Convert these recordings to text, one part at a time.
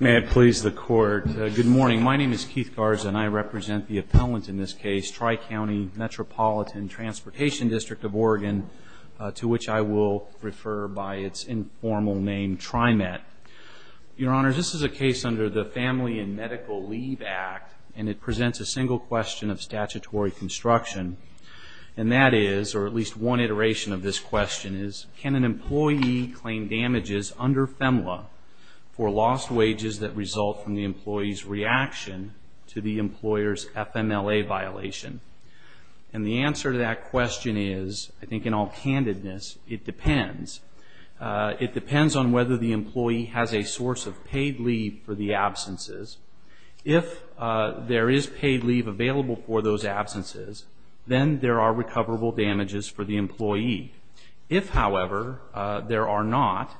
May it please the Court, good morning. My name is Keith Garza and I represent the appellant in this case, Tri-County Metropolitan Transportation District of Oregon, to which I will refer by its informal name, TriMet. Your Honor, this is a case under the Family and Medical Leave Act, and it presents a single question of statutory construction, and that is, or at least one iteration of this question is, can an employee claim damages under FEMLA for lost wages that result from the employee's reaction to the employer's FMLA violation? And the answer to that question is, I think in all candidness, it depends. It depends on whether the employee has a source of paid leave for the absences. If there is paid leave available for those absences, then there are recoverable damages for the employee. If, however, there are not,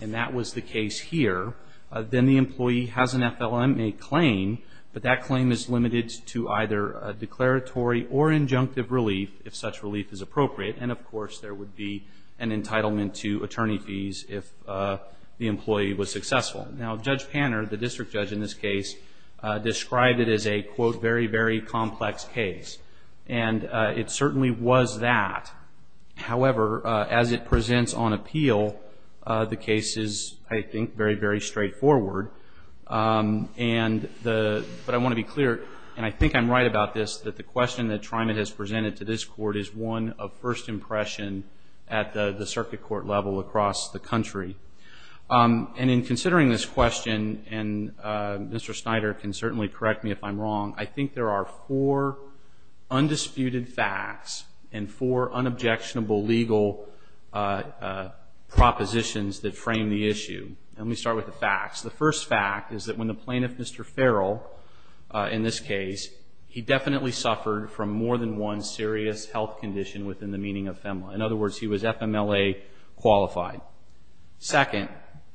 and that was the case here, then the employee has an FLMA claim, but that claim is limited to either a declaratory or injunctive relief, if such relief is appropriate, and of course there would be an entitlement to attorney fees if the employee was successful. Now, Judge Panner, the district judge in this case, described it as a, quote, very, very complex case, and it certainly was that. However, as it presents on appeal, the case is, I think, very, very straightforward, but I want to be clear, and I think I'm right about this, that the question that TriMet has presented to this Court is one of first impression at the circuit court level across the country. And in considering this question, and Mr. Snyder can certainly correct me if I'm wrong, I think there are four undisputed facts and four unobjectionable legal propositions that frame the issue. And let me start with the facts. The first fact is that when the plaintiff, Mr. Farrell, in this case, he definitely suffered from more than one serious health condition within the meaning of FMLA. In other words, he was FMLA qualified. Second,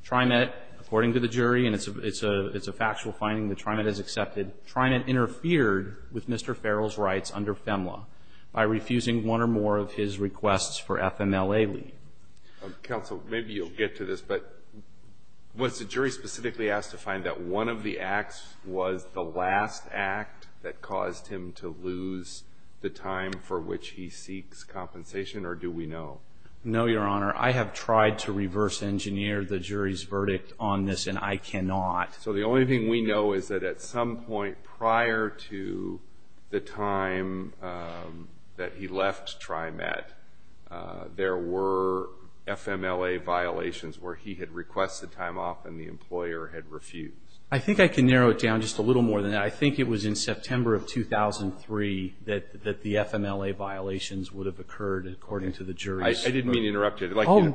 TriMet, according to the jury, and it's a factual finding that TriMet has accepted, TriMet interfered with Mr. Farrell's rights under FMLA by refusing one or more of his requests for FMLA leave. Counsel, maybe you'll get to this, but was the jury specifically asked to find that one of the acts was the last act that caused him to lose the time for which he seeks compensation, or do we know? No, Your Honor. I have tried to reverse engineer the jury's verdict on this, and I cannot. So the only thing we know is that at some point prior to the time that he left TriMet, there were FMLA violations where he had requested time off and the employer had refused. I think I can narrow it down just a little more than that. I think it was in September of 2003 that the FMLA violations would have occurred, according to the jury. I didn't mean to interrupt you.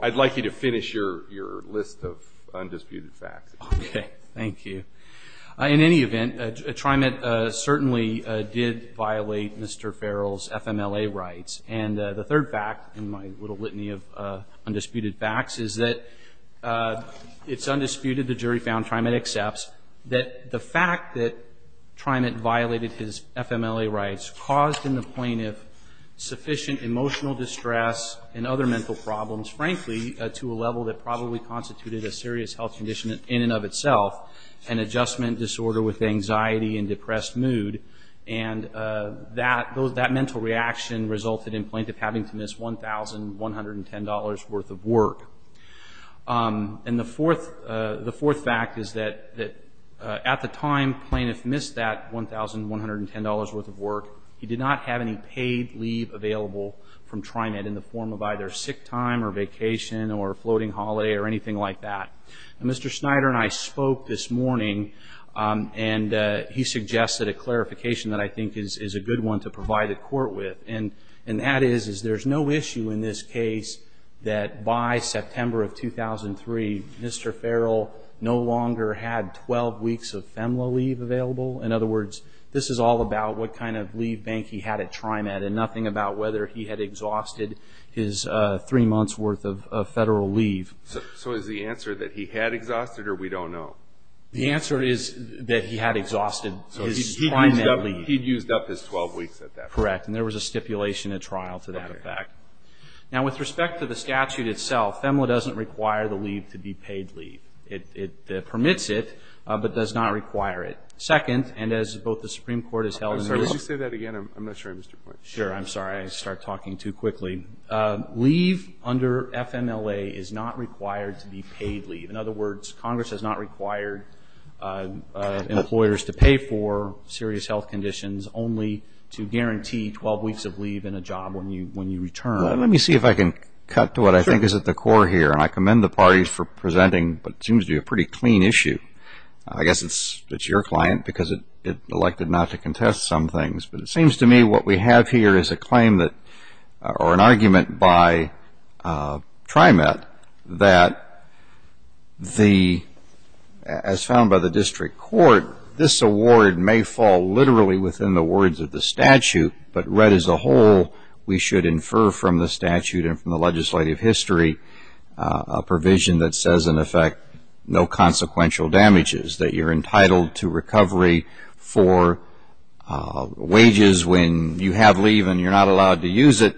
I'd like you to finish your list of undisputed facts. Okay. Thank you. In any event, TriMet certainly did violate Mr. Farrell's FMLA rights. And the third fact in my little litany of undisputed facts is that it's undisputed. The jury found TriMet accepts that the fact that TriMet violated his FMLA rights caused in the plaintiff sufficient emotional distress and other mental problems, frankly, to a level that probably constituted a serious health condition in and of itself, an adjustment disorder with anxiety and depressed mood. And that mental reaction resulted in plaintiff having to miss $1,110 worth of work. And the fourth fact is that at the time plaintiff missed that $1,110 worth of work, he did not have any paid leave available from TriMet in the form of either sick time or vacation or floating holiday or anything like that. And Mr. Snyder and I spoke this morning, and he suggested a clarification that I think is a good one to provide the court with. And that is there's no issue in this case that by September of 2003, Mr. Farrell no longer had 12 weeks of FMLA leave available. In other words, this is all about what kind of leave bank he had at TriMet and nothing about whether he had exhausted his three months' worth of federal leave. So is the answer that he had exhausted or we don't know? The answer is that he had exhausted his TriMet leave. So he'd used up his 12 weeks at that point. Correct. And there was a stipulation at trial to that effect. Okay. Now, with respect to the statute itself, FEMLA doesn't require the leave to be paid leave. It permits it but does not require it. Second, and as both the Supreme Court has held in the middle of the court. I'm sorry. Could you say that again? I'm not sure I understood your point. Sure. I'm sorry. I start talking too quickly. Leave under FMLA is not required to be paid leave. In other words, Congress has not required employers to pay for serious health conditions only to guarantee 12 weeks of leave in a job when you return. Let me see if I can cut to what I think is at the core here. And I commend the parties for presenting what seems to be a pretty clean issue. I guess it's your client because it elected not to contest some things. But it seems to me what we have here is a claim or an argument by TriMet that as found by the district court, this award may fall literally within the words of the statute, but read as a whole, we should infer from the statute and from the legislative history a provision that says in effect no consequential damages, that you're entitled to recovery for wages when you have leave and you're not allowed to use it.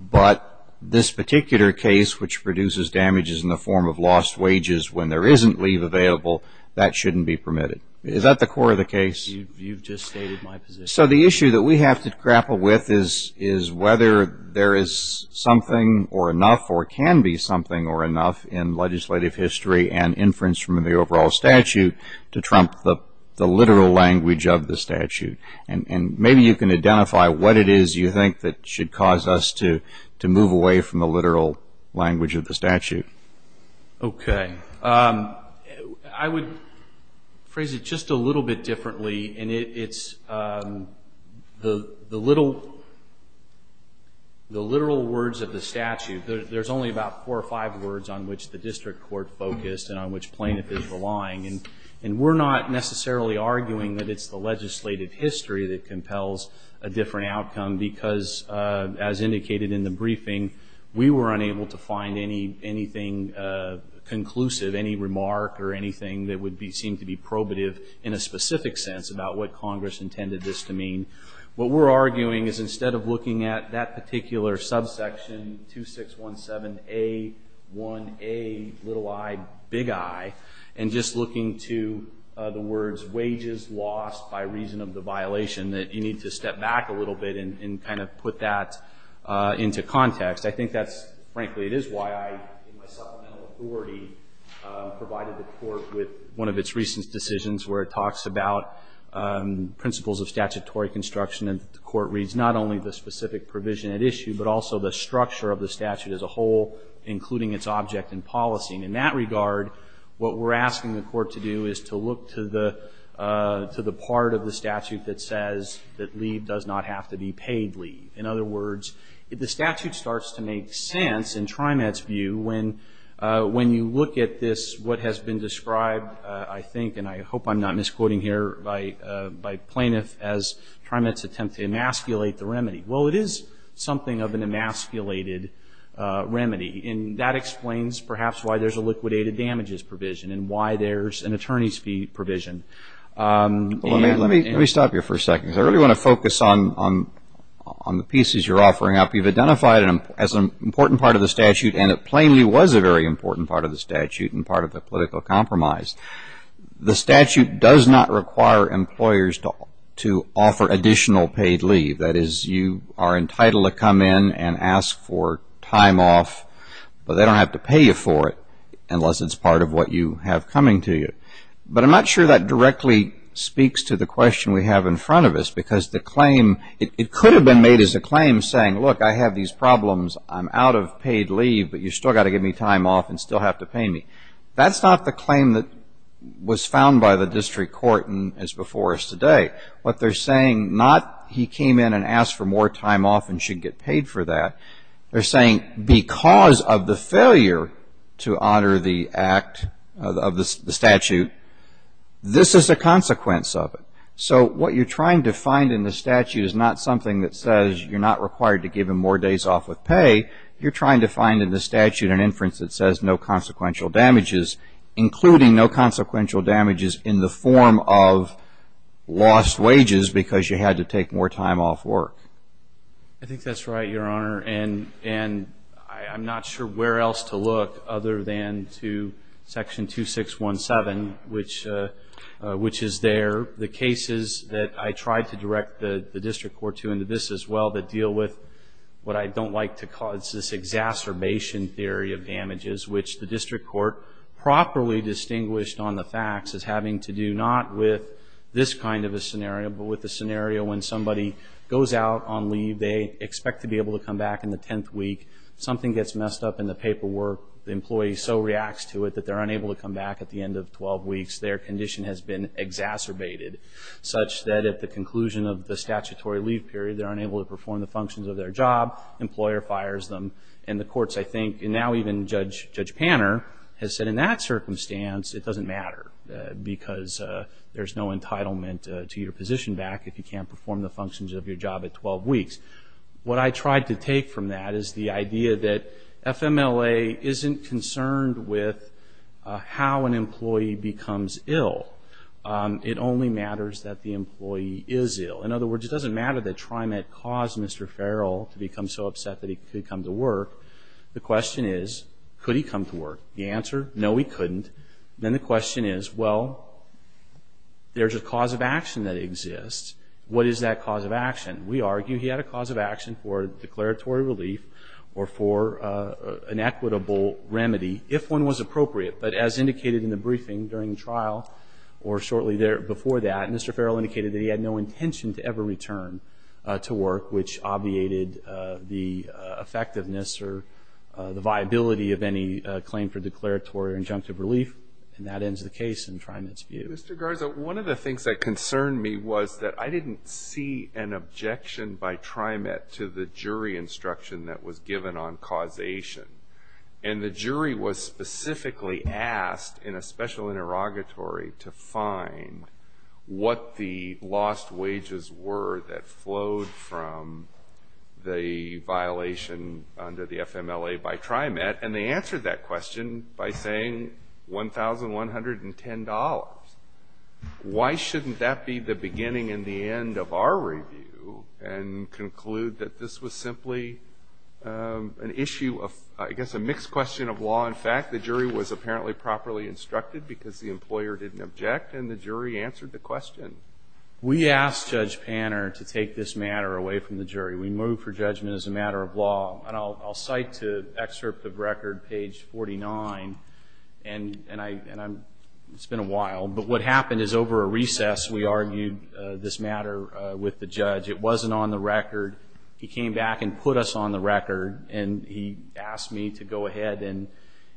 But this particular case, which produces damages in the form of lost wages when there isn't leave available, that shouldn't be permitted. Is that the core of the case? You've just stated my position. So the issue that we have to grapple with is whether there is something or enough or can be something or enough in legislative history and inference from the overall statute to trump the literal language of the statute. And maybe you can identify what it is you think that should cause us to move away from the literal language of the statute. Okay. I would phrase it just a little bit differently. And it's the literal words of the statute. There's only about four or five words on which the district court focused and on which plaintiff is relying. And we're not necessarily arguing that it's the legislative history that compels a different outcome because, as indicated in the briefing, we were unable to find anything conclusive, any remark or anything that would seem to be probative in a specific sense about what Congress intended this to mean. What we're arguing is instead of looking at that particular subsection, 2617A1A, little I, big I, and just looking to the words wages lost by reason of the violation, that you need to step back a little bit and kind of put that into context. I think that's, frankly, it is why I, in my supplemental authority, provided the court with one of its recent decisions where it talks about principles of statutory construction and the court reads not only the specific provision at issue, but also the structure of the statute as a whole, including its object and policy. And in that regard, what we're asking the court to do is to look to the part of the statute that says that leave does not have to be paid leave. In other words, if the statute starts to make sense in TriMet's view when you look at this, what has been described, I think, and I hope I'm not misquoting here, by plaintiff as TriMet's attempt to emasculate the remedy. Well, it is something of an emasculated remedy, and that explains perhaps why there's a liquidated damages provision and why there's an attorney's fee provision. Let me stop you for a second. I really want to focus on the pieces you're offering up. You've identified as an important part of the statute, and it plainly was a very important part of the statute and part of the political compromise. The statute does not require employers to offer additional paid leave. That is, you are entitled to come in and ask for time off, but they don't have to pay you for it unless it's part of what you have coming to you. But I'm not sure that directly speaks to the question we have in front of us, because the claim, it could have been made as a claim saying, look, I have these problems. I'm out of paid leave, but you've still got to give me time off and still have to pay me. That's not the claim that was found by the district court as before us today. What they're saying, not he came in and asked for more time off and should get paid for that. They're saying because of the failure to honor the act of the statute, this is a consequence of it. So what you're trying to find in the statute is not something that says you're not required to give him more days off with pay. You're trying to find in the statute an inference that says no consequential damages, including no consequential damages in the form of lost wages because you had to take more time off work. I think that's right, Your Honor. And I'm not sure where else to look other than to Section 2617, which is there. The cases that I tried to direct the district court to in this as well that deal with what I don't like to call this exacerbation theory of damages, which the district court properly distinguished on the facts as having to do not with this kind of a scenario, but with the scenario when somebody goes out on leave, they expect to be able to come back in the 10th week. Something gets messed up in the paperwork. The employee so reacts to it that they're unable to come back at the end of 12 weeks. Their condition has been exacerbated such that at the conclusion of the statutory leave period, they're unable to perform the functions of their job. Employer fires them. And the courts, I think, and now even Judge Panner has said in that circumstance, it doesn't matter because there's no entitlement to your position back if you can't perform the functions of your job at 12 weeks. What I tried to take from that is the idea that FMLA isn't concerned with how an employee becomes ill. It only matters that the employee is ill. In other words, it doesn't matter that TriMet caused Mr. Farrell to become so upset that he could come to work. The question is, could he come to work? The answer, no, he couldn't. Then the question is, well, there's a cause of action that exists. What is that cause of action? We argue he had a cause of action for declaratory relief or for an equitable remedy if one was appropriate. But as indicated in the briefing during the trial or shortly before that, Mr. Farrell indicated that he had no intention to ever return to work, which obviated the effectiveness or the viability of any claim for declaratory or injunctive relief. And that ends the case in TriMet's view. Mr. Garza, one of the things that concerned me was that I didn't see an objection by TriMet to the jury instruction that was given on causation. And the jury was specifically asked in a special interrogatory to find what the lost wages were that flowed from the violation under the FMLA by TriMet. And they answered that question by saying $1,110. Why shouldn't that be the beginning and the end of our review and conclude that this was simply an issue of, I guess, a mixed question of law and fact? The jury was apparently properly instructed because the employer didn't object, and the jury answered the question. We asked Judge Panner to take this matter away from the jury. We moved for judgment as a matter of law. And I'll cite to excerpt of record, page 49, and it's been a while, but what happened is over a recess we argued this matter with the judge. It wasn't on the record. He came back and put us on the record, and he asked me to go ahead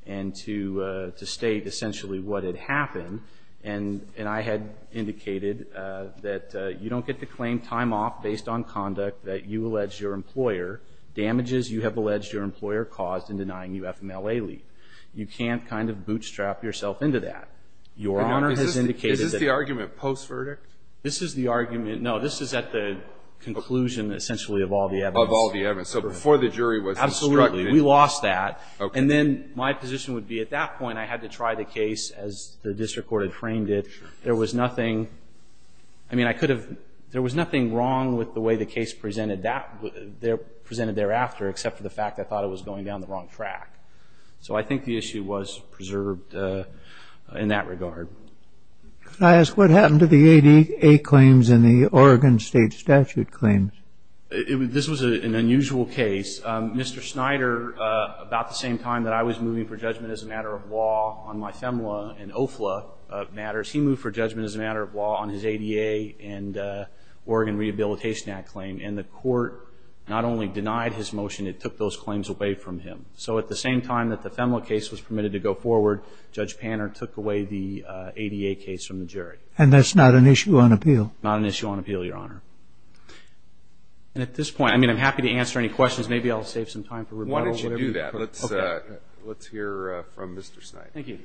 and to state essentially what had happened. And I had indicated that you don't get to claim time off based on conduct that you alleged your employer damages you have alleged your employer caused in denying you FMLA leave. You can't kind of bootstrap yourself into that. Your Honor has indicated that... Is this the argument post-verdict? This is the argument. No, this is at the conclusion essentially of all the evidence. Of all the evidence. So before the jury was instructed. Absolutely. We lost that. And then my position would be at that point I had to try the case as the district court had framed it. There was nothing. I mean, I could have. There was nothing wrong with the way the case presented thereafter, except for the fact I thought it was going down the wrong track. So I think the issue was preserved in that regard. Could I ask what happened to the ADA claims and the Oregon State statute claims? This was an unusual case. Mr. Snyder, about the same time that I was moving for judgment as a matter of law on my FMLA and OFLA matters, he moved for judgment as a matter of law on his ADA and Oregon Rehabilitation Act claim. And the court not only denied his motion, it took those claims away from him. So at the same time that the FMLA case was permitted to go forward, Judge Panner took away the ADA case from the jury. And that's not an issue on appeal? Not an issue on appeal, Your Honor. And at this point, I mean, I'm happy to answer any questions. Maybe I'll save some time for rebuttal. Why don't you do that? Let's hear from Mr. Snyder. Thank you.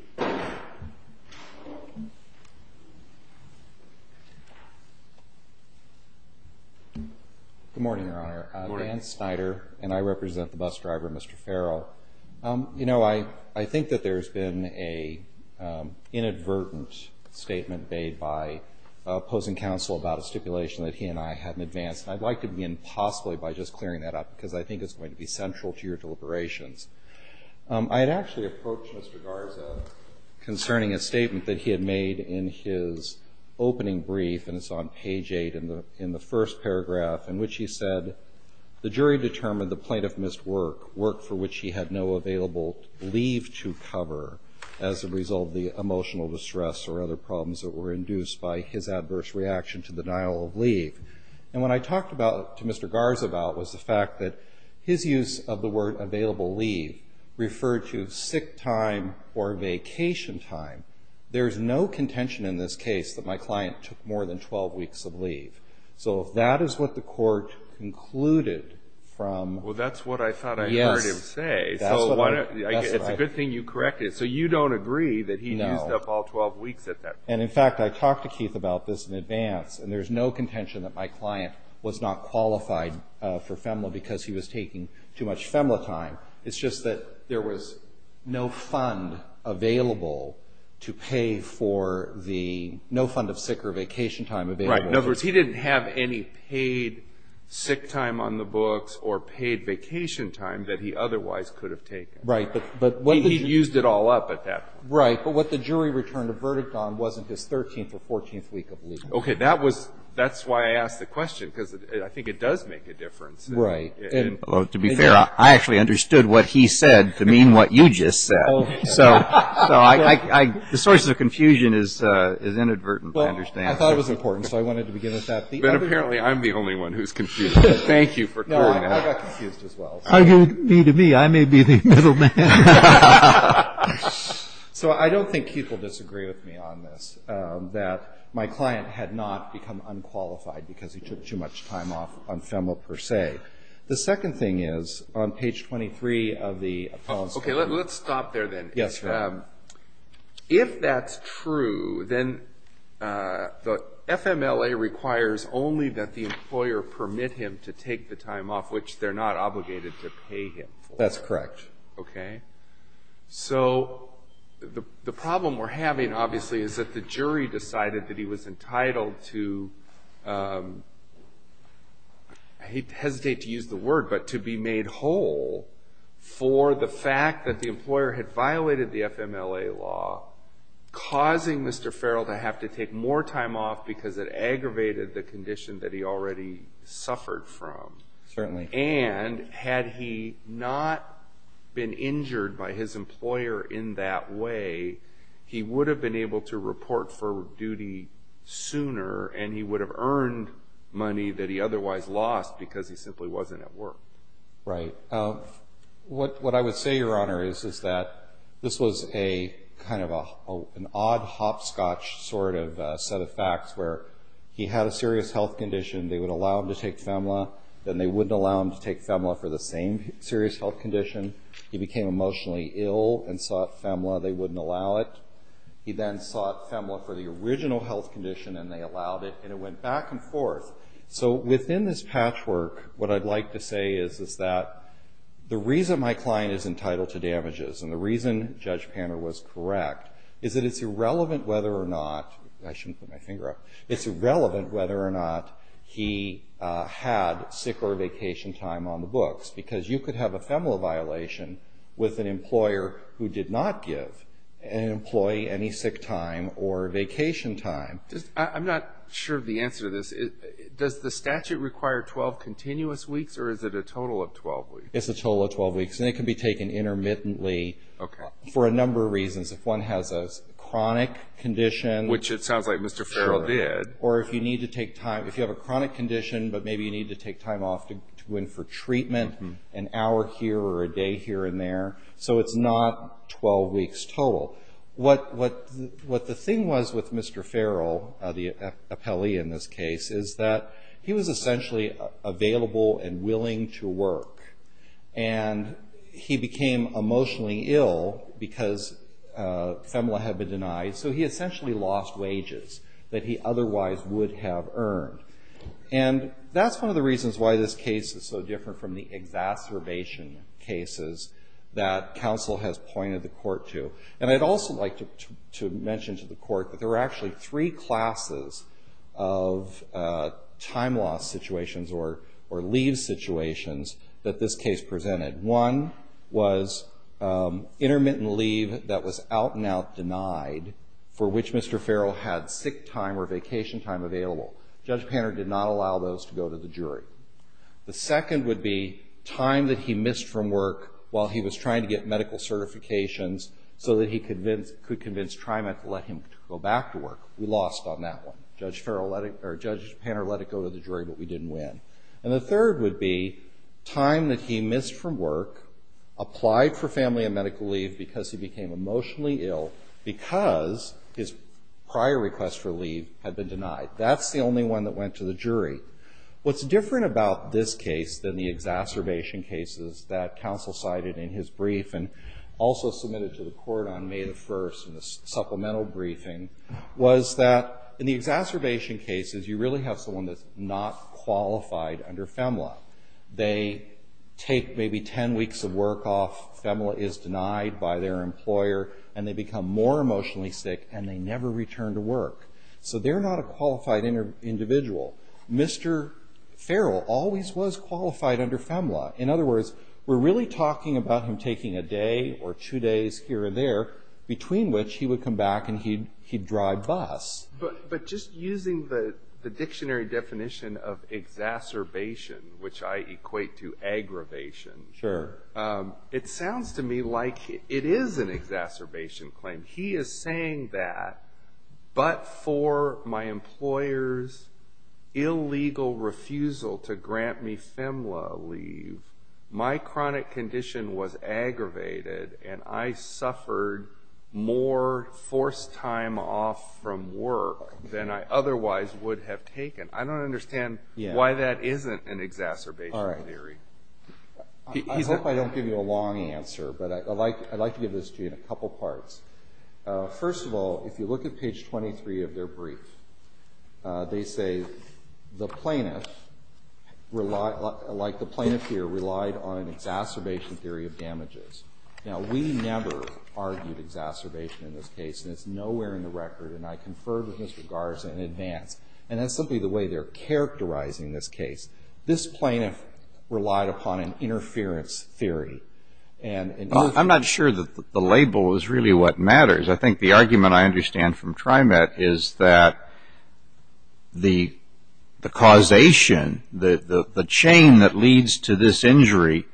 Good morning, Your Honor. Good morning. I'm Dan Snyder, and I represent the bus driver, Mr. Farrell. You know, I think that there's been an inadvertent statement made by opposing counsel about a stipulation that he and I hadn't advanced. And I'd like to begin possibly by just clearing that up, because I think it's going to be central to your deliberations. I had actually approached Mr. Garza concerning a statement that he had made in his opening brief, and it's on page 8 in the first paragraph, in which he said, the jury determined the plaintiff missed work, work for which he had no available leave to cover as a result of the emotional distress or other problems that were induced by his adverse reaction to the denial of leave. And what I talked to Mr. Garza about was the fact that his use of the word available leave referred to sick time or vacation time. There's no contention in this case that my client took more than 12 weeks of leave. So if that is what the court concluded from — Well, that's what I thought I heard him say. Yes. So why don't — it's a good thing you corrected it. So you don't agree that he used up all 12 weeks at that point? No. And in fact, I talked to Keith about this in advance, and there's no contention that my client was not qualified for FEMLA because he was taking too much FEMLA time. It's just that there was no fund available to pay for the — no fund of sick or vacation time available. Right. In other words, he didn't have any paid sick time on the books or paid vacation time that he otherwise could have taken. Right. But — He used it all up at that point. Right. But what the jury returned a verdict on wasn't his 13th or 14th week of leave. Okay. That was — that's why I asked the question because I think it does make a difference. Right. Well, to be fair, I actually understood what he said to mean what you just said. Oh, yeah. So I — the source of confusion is inadvertent, I understand. Well, I thought it was important, so I wanted to begin with that. But apparently I'm the only one who's confused. Thank you for clearing that up. No, I got confused as well. Me to me, I may be the middle man. So I don't think Keith will disagree with me on this, that my client had not become unqualified because he took too much time off on FEMLA per se. The second thing is on page 23 of the — Okay, let's stop there then. Yes, sir. If that's true, then the FMLA requires only that the employer permit him to take the time off, which they're not obligated to pay him for. Okay. So the problem we're having, obviously, is that the jury decided that he was entitled to — I hesitate to use the word, but to be made whole for the fact that the employer had violated the FMLA law, causing Mr. Farrell to have to take more time off because it aggravated the condition that he already suffered from. Certainly. And had he not been injured by his employer in that way, he would have been able to report for duty sooner, and he would have earned money that he otherwise lost because he simply wasn't at work. Right. What I would say, Your Honor, is that this was kind of an odd hopscotch sort of set of facts where he had a serious health condition. They would allow him to take FMLA, then they wouldn't allow him to take FMLA for the same serious health condition. He became emotionally ill and sought FMLA. They wouldn't allow it. He then sought FMLA for the original health condition, and they allowed it, and it went back and forth. So within this patchwork, what I'd like to say is that the reason my client is entitled to damages and the reason Judge Panner was correct is that it's irrelevant whether or not — I shouldn't put my finger up — it's irrelevant whether or not he had sick or vacation time on the books because you could have a FMLA violation with an employer who did not give an employee any sick time or vacation time. I'm not sure of the answer to this. Does the statute require 12 continuous weeks, or is it a total of 12 weeks? It's a total of 12 weeks, and it can be taken intermittently for a number of reasons. If one has a chronic condition — Which it sounds like Mr. Farrell did. Sure. Or if you need to take time — if you have a chronic condition, but maybe you need to take time off to go in for treatment, an hour here or a day here and there, so it's not 12 weeks total. What the thing was with Mr. Farrell, the appellee in this case, is that he was essentially available and willing to work, and he became emotionally ill because FMLA had been denied, so he essentially lost wages that he otherwise would have earned. And that's one of the reasons why this case is so different from the exacerbation cases that counsel has pointed the court to. And I'd also like to mention to the court that there are actually three classes of time-loss situations or leave situations that this case presented. One was intermittent leave that was out-and-out denied, for which Mr. Farrell had sick time or vacation time available. Judge Panner did not allow those to go to the jury. The second would be time that he missed from work while he was trying to get medical certifications so that he could convince TriMet to let him go back to work. We lost on that one. Judge Panner let it go to the jury, but we didn't win. And the third would be time that he missed from work, applied for family and medical leave because he became emotionally ill because his prior request for leave had been denied. That's the only one that went to the jury. What's different about this case than the exacerbation cases that counsel cited in his brief and also submitted to the court on May 1st in the supplemental briefing was that in the exacerbation cases, you really have someone that's not qualified under FEMLA. They take maybe 10 weeks of work off. FEMLA is denied by their employer, and they become more emotionally sick, and they never return to work. So they're not a qualified individual. Mr. Farrell always was qualified under FEMLA. In other words, we're really talking about him taking a day or two days here or there between which he would come back and he'd drive bus. But just using the dictionary definition of exacerbation, which I equate to aggravation, it sounds to me like it is an exacerbation claim. He is saying that, but for my employer's illegal refusal to grant me FEMLA leave, my chronic condition was aggravated, and I suffered more forced time off from work than I otherwise would have taken. I don't understand why that isn't an exacerbation theory. I hope I don't give you a long answer, but I'd like to give this to you in a couple parts. First of all, if you look at page 23 of their brief, they say the plaintiff, like the plaintiff here, relied on an exacerbation theory of damages. Now, we never argued exacerbation in this case, and it's nowhere in the record, and I conferred with Mr. Garza in advance. And that's simply the way they're characterizing this case. This plaintiff relied upon an interference theory. I'm not sure that the label is really what matters. I think the argument I understand from TriMet is that the causation, the chain that leads to this injury,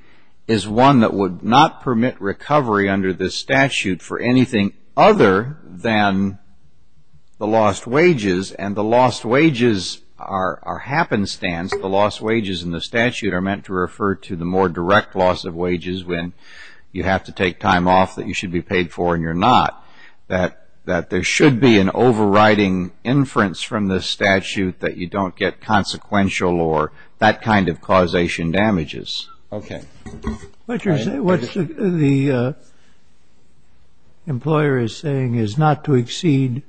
is one that would not permit recovery under this statute for anything other than the lost wages, and the lost wages are happenstance. The lost wages in the statute are meant to refer to the more direct loss of wages when you have to take time off that you should be paid for and you're not, that there should be an overriding inference from this statute that you don't get consequential or that kind of causation damages. Okay. What the employer is saying is not to exceed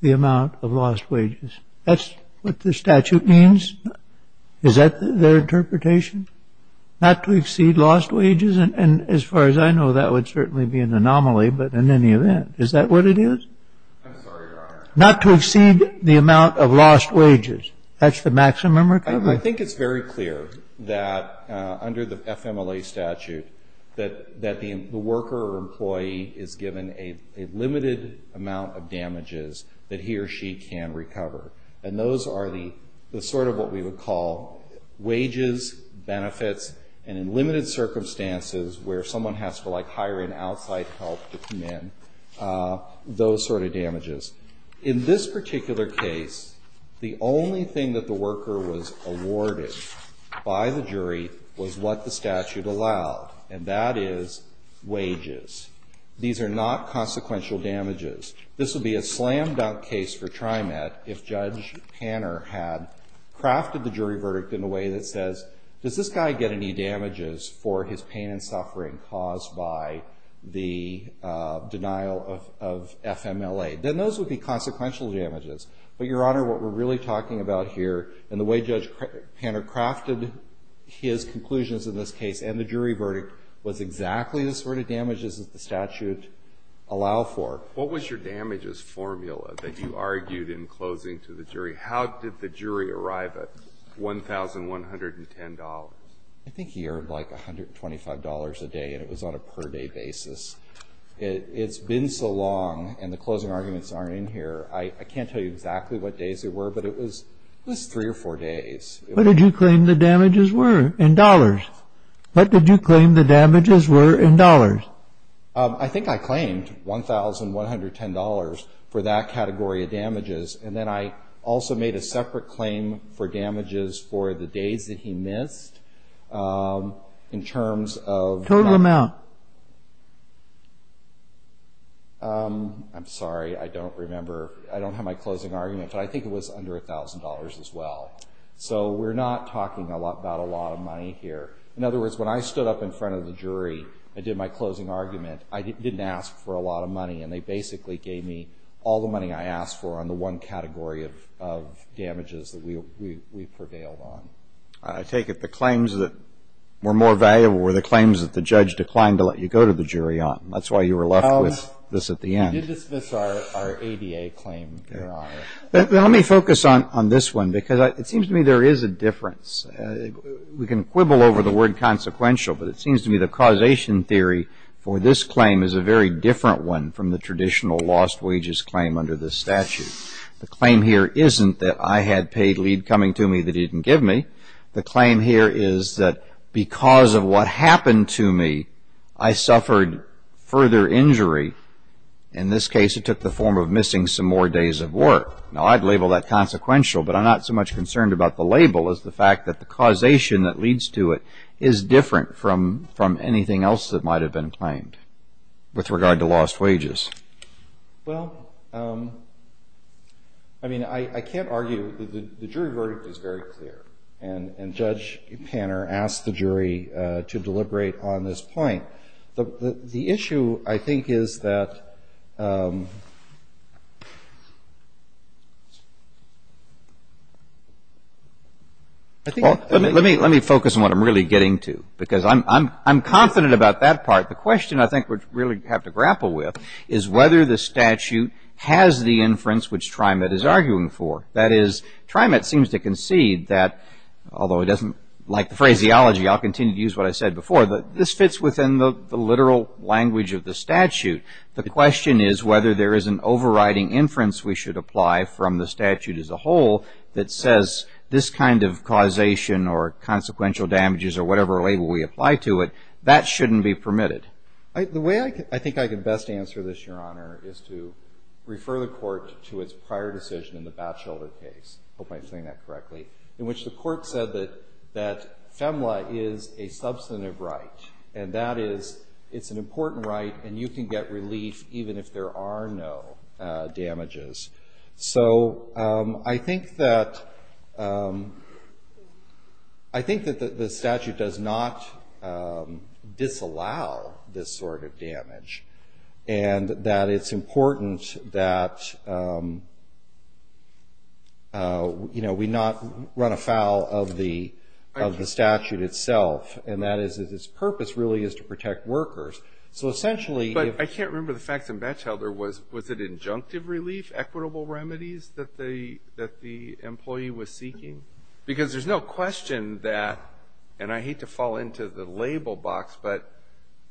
the amount of lost wages. That's what the statute means? Is that their interpretation, not to exceed lost wages? And as far as I know, that would certainly be an anomaly, but in any event, is that what it is? I'm sorry, Your Honor. Not to exceed the amount of lost wages. That's the maximum recovery. I think it's very clear that under the FMLA statute, that the worker or employee is given a limited amount of damages that he or she can recover, and those are the sort of what we would call wages, benefits, and in limited circumstances where someone has to, like, hire an outside help to come in, those sort of damages. In this particular case, the only thing that the worker was awarded by the jury was what the statute allowed, and that is wages. These are not consequential damages. This would be a slam-dunk case for TriMet if Judge Hanner had crafted the jury verdict in a way that says, does this guy get any damages for his pain and suffering caused by the denial of FMLA? Then those would be consequential damages. But, Your Honor, what we're really talking about here, and the way Judge Hanner crafted his conclusions in this case and the jury verdict, was exactly the sort of damages that the statute allowed for. What was your damages formula that you argued in closing to the jury? How did the jury arrive at $1,110? I think he earned, like, $125 a day, and it was on a per-day basis. It's been so long, and the closing arguments aren't in here. I can't tell you exactly what days there were, but it was three or four days. What did you claim the damages were in dollars? What did you claim the damages were in dollars? I think I claimed $1,110 for that category of damages, and then I also made a separate claim for damages for the days that he missed in terms of- I'm sorry. I don't remember. I don't have my closing argument, but I think it was under $1,000 as well. So we're not talking about a lot of money here. In other words, when I stood up in front of the jury and did my closing argument, I didn't ask for a lot of money, and they basically gave me all the money I asked for on the one category of damages that we prevailed on. I take it the claims that were more valuable were the claims that the judge declined to let you go to the jury on. That's why you were left with this at the end. We did dismiss our ADA claim. Let me focus on this one because it seems to me there is a difference. We can quibble over the word consequential, but it seems to me the causation theory for this claim is a very different one from the traditional lost wages claim under this statute. The claim here isn't that I had paid lead coming to me that he didn't give me. The claim here is that because of what happened to me, I suffered further injury. In this case, it took the form of missing some more days of work. Now, I'd label that consequential, but I'm not so much concerned about the label as the fact that the causation that leads to it is different from anything else that might have been claimed with regard to lost wages. Well, I mean, I can't argue. The jury verdict is very clear. And Judge Panner asked the jury to deliberate on this point. The issue, I think, is that I think... Let me focus on what I'm really getting to because I'm confident about that part. The question I think we really have to grapple with is whether the statute has the inference which TriMet is arguing for. That is, TriMet seems to concede that, although it doesn't like the phraseology, I'll continue to use what I said before, that this fits within the literal language of the statute. The question is whether there is an overriding inference we should apply from the statute as a whole that says this kind of causation or consequential damages or whatever label we apply to it, that shouldn't be permitted. The way I think I can best answer this, Your Honor, is to refer the court to its prior decision in the Batchelder case, I hope I'm saying that correctly, in which the court said that FEMLA is a substantive right, and that is, it's an important right and you can get relief even if there are no damages. So I think that the statute does not disallow this sort of damage, and that it's important that we not run afoul of the statute itself, and that is that its purpose really is to protect workers. But I can't remember the facts in Batchelder. Was it injunctive relief, equitable remedies that the employee was seeking? Because there's no question that, and I hate to fall into the label box, but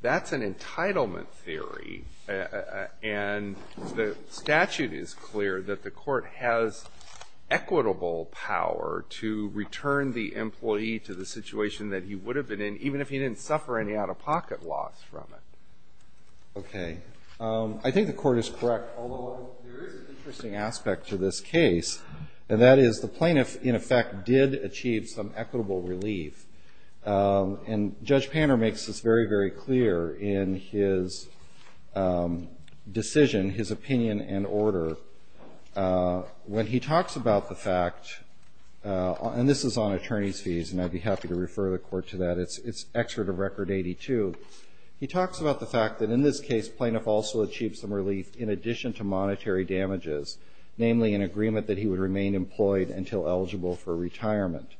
that's an entitlement theory, and the statute is clear that the court has equitable power to return the employee to the situation that he would have been in even if he didn't suffer any out-of-pocket loss from it. Okay. I think the court is correct, although there is an interesting aspect to this case, and that is the plaintiff, in effect, did achieve some equitable relief. And Judge Panner makes this very, very clear in his decision, his opinion and order. When he talks about the fact, and this is on attorney's fees, and I'd be happy to refer the court to that, it's Excerpt of Record 82, he talks about the fact that in this case plaintiff also achieved some relief in addition to monetary damages, namely an agreement that he would remain employed until eligible for retirement.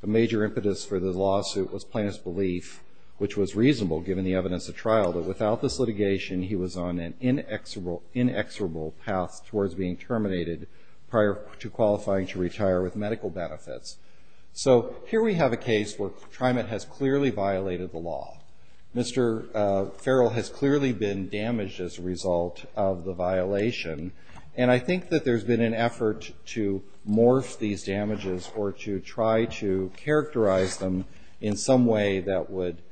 The major impetus for the lawsuit was plaintiff's belief, which was reasonable given the evidence at trial, that without this litigation he was on an inexorable path towards being terminated prior to qualifying to retire with medical benefits. So here we have a case where TriMet has clearly violated the law. Mr. Farrell has clearly been damaged as a result of the violation. And I think that there's been an effort to morph these damages or to try to characterize them in some way that would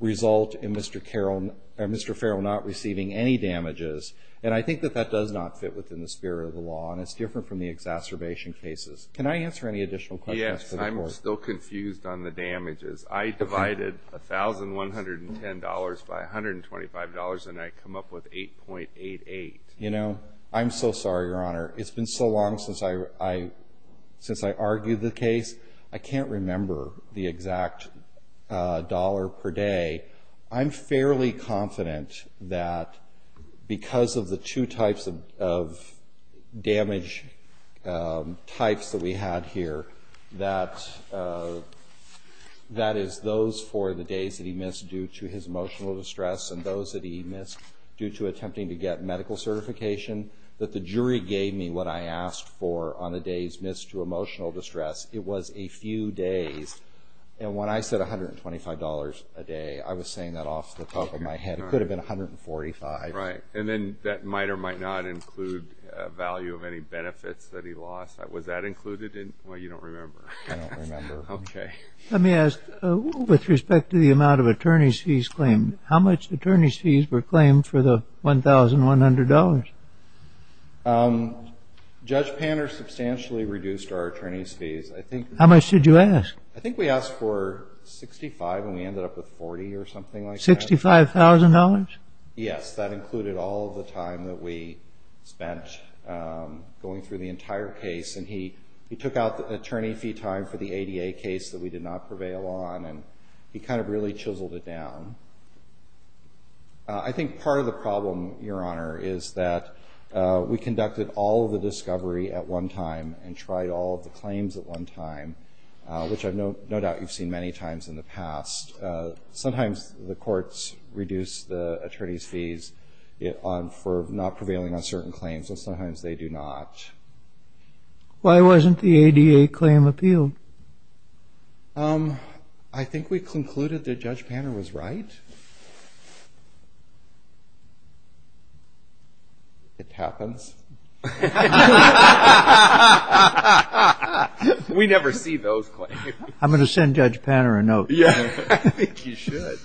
result in Mr. Farrell not receiving any damages. And I think that that does not fit within the spirit of the law, and it's different from the exacerbation cases. Can I answer any additional questions for the court? Yes, and I'm still confused on the damages. I divided $1,110 by $125, and I come up with $8.88. You know, I'm so sorry, Your Honor. It's been so long since I argued the case, I can't remember the exact dollar per day. I'm fairly confident that because of the two types of damage types that we had here, that is those for the days that he missed due to his emotional distress and those that he missed due to attempting to get medical certification, that the jury gave me what I asked for on the days missed to emotional distress. It was a few days. And when I said $125 a day, I was saying that off the top of my head. It could have been $145. Right, and then that might or might not include value of any benefits that he lost. Was that included? Well, you don't remember. I don't remember. Okay. Let me ask, with respect to the amount of attorney's fees claimed, how much attorney's fees were claimed for the $1,100? Judge Panner substantially reduced our attorney's fees. How much did you ask? I think we asked for $65,000 and we ended up with $40,000 or something like that. $65,000? Yes, that included all of the time that we spent going through the entire case. And he took out the attorney fee time for the ADA case that we did not prevail on, and he kind of really chiseled it down. I think part of the problem, Your Honor, is that we conducted all of the discovery at one time and tried all of the claims at one time, which I have no doubt you've seen many times in the past. Sometimes the courts reduce the attorney's fees for not prevailing on certain claims, and sometimes they do not. Why wasn't the ADA claim appealed? I think we concluded that Judge Panner was right. It happens. We never see those claims. I'm going to send Judge Panner a note. I think you should.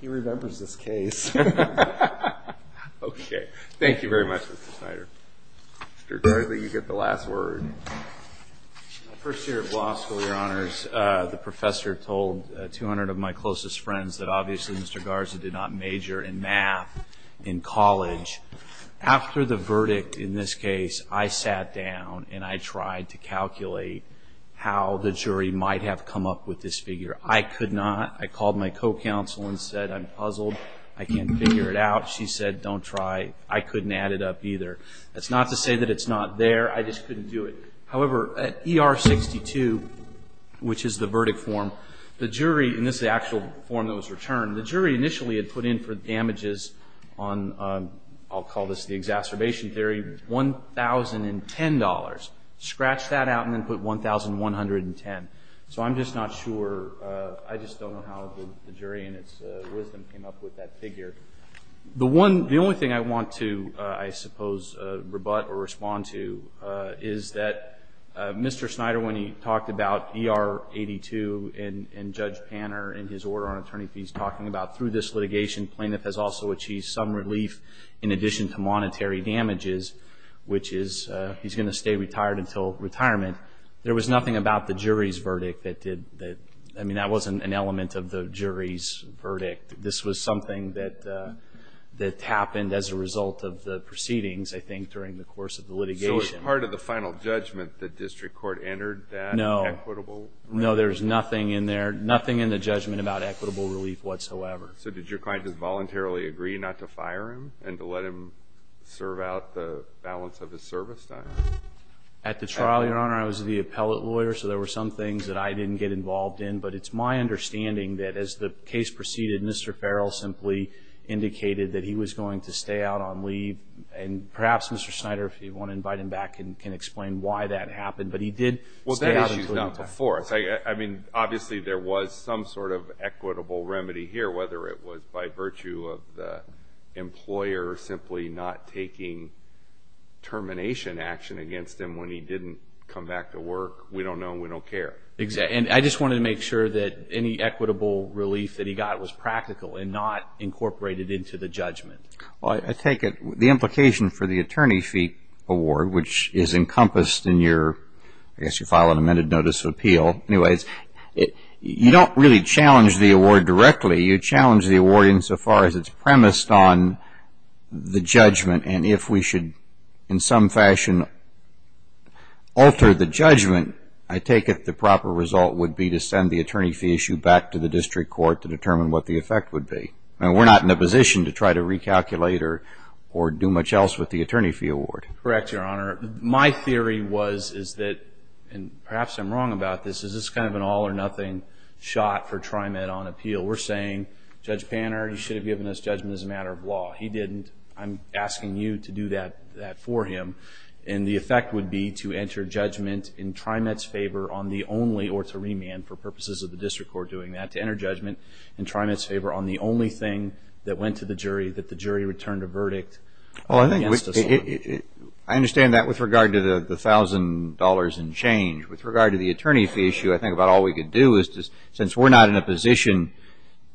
He remembers this case. Okay. Thank you very much, Mr. Snyder. Mr. Gargley, you get the last word. My first year at law school, Your Honors, the professor told 200 of my closest friends that obviously Mr. Garza did not major in math in college. After the verdict in this case, I sat down and I tried to calculate how the jury might have come up with this figure. I could not. I called my co-counsel and said, I'm puzzled. I can't figure it out. She said, don't try. I couldn't add it up either. That's not to say that it's not there. I just couldn't do it. However, at ER 62, which is the verdict form, the jury, and this is the actual form that was returned, the jury initially had put in for damages on, I'll call this the exacerbation theory, $1,010. Scratch that out and then put $1,110. So I'm just not sure. I just don't know how the jury in its wisdom came up with that figure. The only thing I want to, I suppose, rebut or respond to is that Mr. Snyder, when he talked about ER 82 and Judge Panner and his order on attorney fees, talking about through this litigation plaintiff has also achieved some relief in addition to monetary damages, which is he's going to stay retired until retirement. There was nothing about the jury's verdict that did that. I mean, that wasn't an element of the jury's verdict. This was something that happened as a result of the proceedings, I think, during the course of the litigation. So as part of the final judgment, the district court entered that equitable relief? No, there's nothing in there, nothing in the judgment about equitable relief whatsoever. So did your client just voluntarily agree not to fire him and to let him serve out the balance of his service time? At the trial, Your Honor, I was the appellate lawyer, so there were some things that I didn't get involved in, but it's my understanding that as the case proceeded, Mr. Farrell simply indicated that he was going to stay out on leave, and perhaps Mr. Snyder, if you want to invite him back, can explain why that happened. But he did stay out until retirement. Well, that issue's not before us. I mean, obviously there was some sort of equitable remedy here, whether it was by virtue of the employer simply not taking termination action against him when he didn't come back to work. We don't know and we don't care. And I just wanted to make sure that any equitable relief that he got was practical and not incorporated into the judgment. Well, I take it the implication for the attorney fee award, which is encompassed in your, I guess you file an amended notice of appeal. Anyways, you don't really challenge the award directly. You challenge the award insofar as it's premised on the judgment, and if we should in some fashion alter the judgment, I take it the proper result would be to send the attorney fee issue back to the district court to determine what the effect would be. We're not in a position to try to recalculate or do much else with the attorney fee award. Correct, Your Honor. My theory was is that, and perhaps I'm wrong about this, this is kind of an all-or-nothing shot for TriMet on appeal. We're saying, Judge Panner, you should have given us judgment as a matter of law. He didn't. I'm asking you to do that for him. And the effect would be to enter judgment in TriMet's favor on the only, or to remand for purposes of the district court doing that, to enter judgment in TriMet's favor on the only thing that went to the jury that the jury returned a verdict against us on. I understand that with regard to the $1,000 and change. With regard to the attorney fee issue, I think about all we could do is, since we're not in a position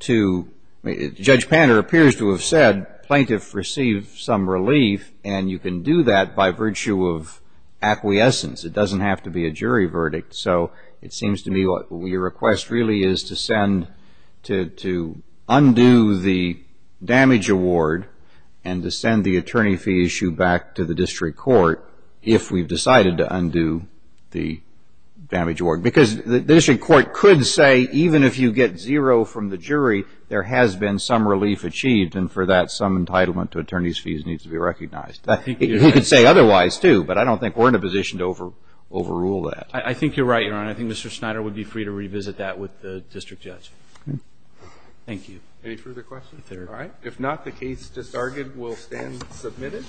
to, Judge Panner appears to have said, plaintiff received some relief, and you can do that by virtue of acquiescence. It doesn't have to be a jury verdict. So it seems to me your request really is to undo the damage award and to send the attorney fee issue back to the district court if we've decided to undo the damage award. Because the district court could say, even if you get zero from the jury, there has been some relief achieved, and for that some entitlement to attorney's fees needs to be recognized. He could say otherwise too, but I don't think we're in a position to overrule that. I think you're right, Your Honor. I think Mr. Snyder would be free to revisit that with the district judge. Thank you. Any further questions? All right. If not, the case disargued will stand submitted.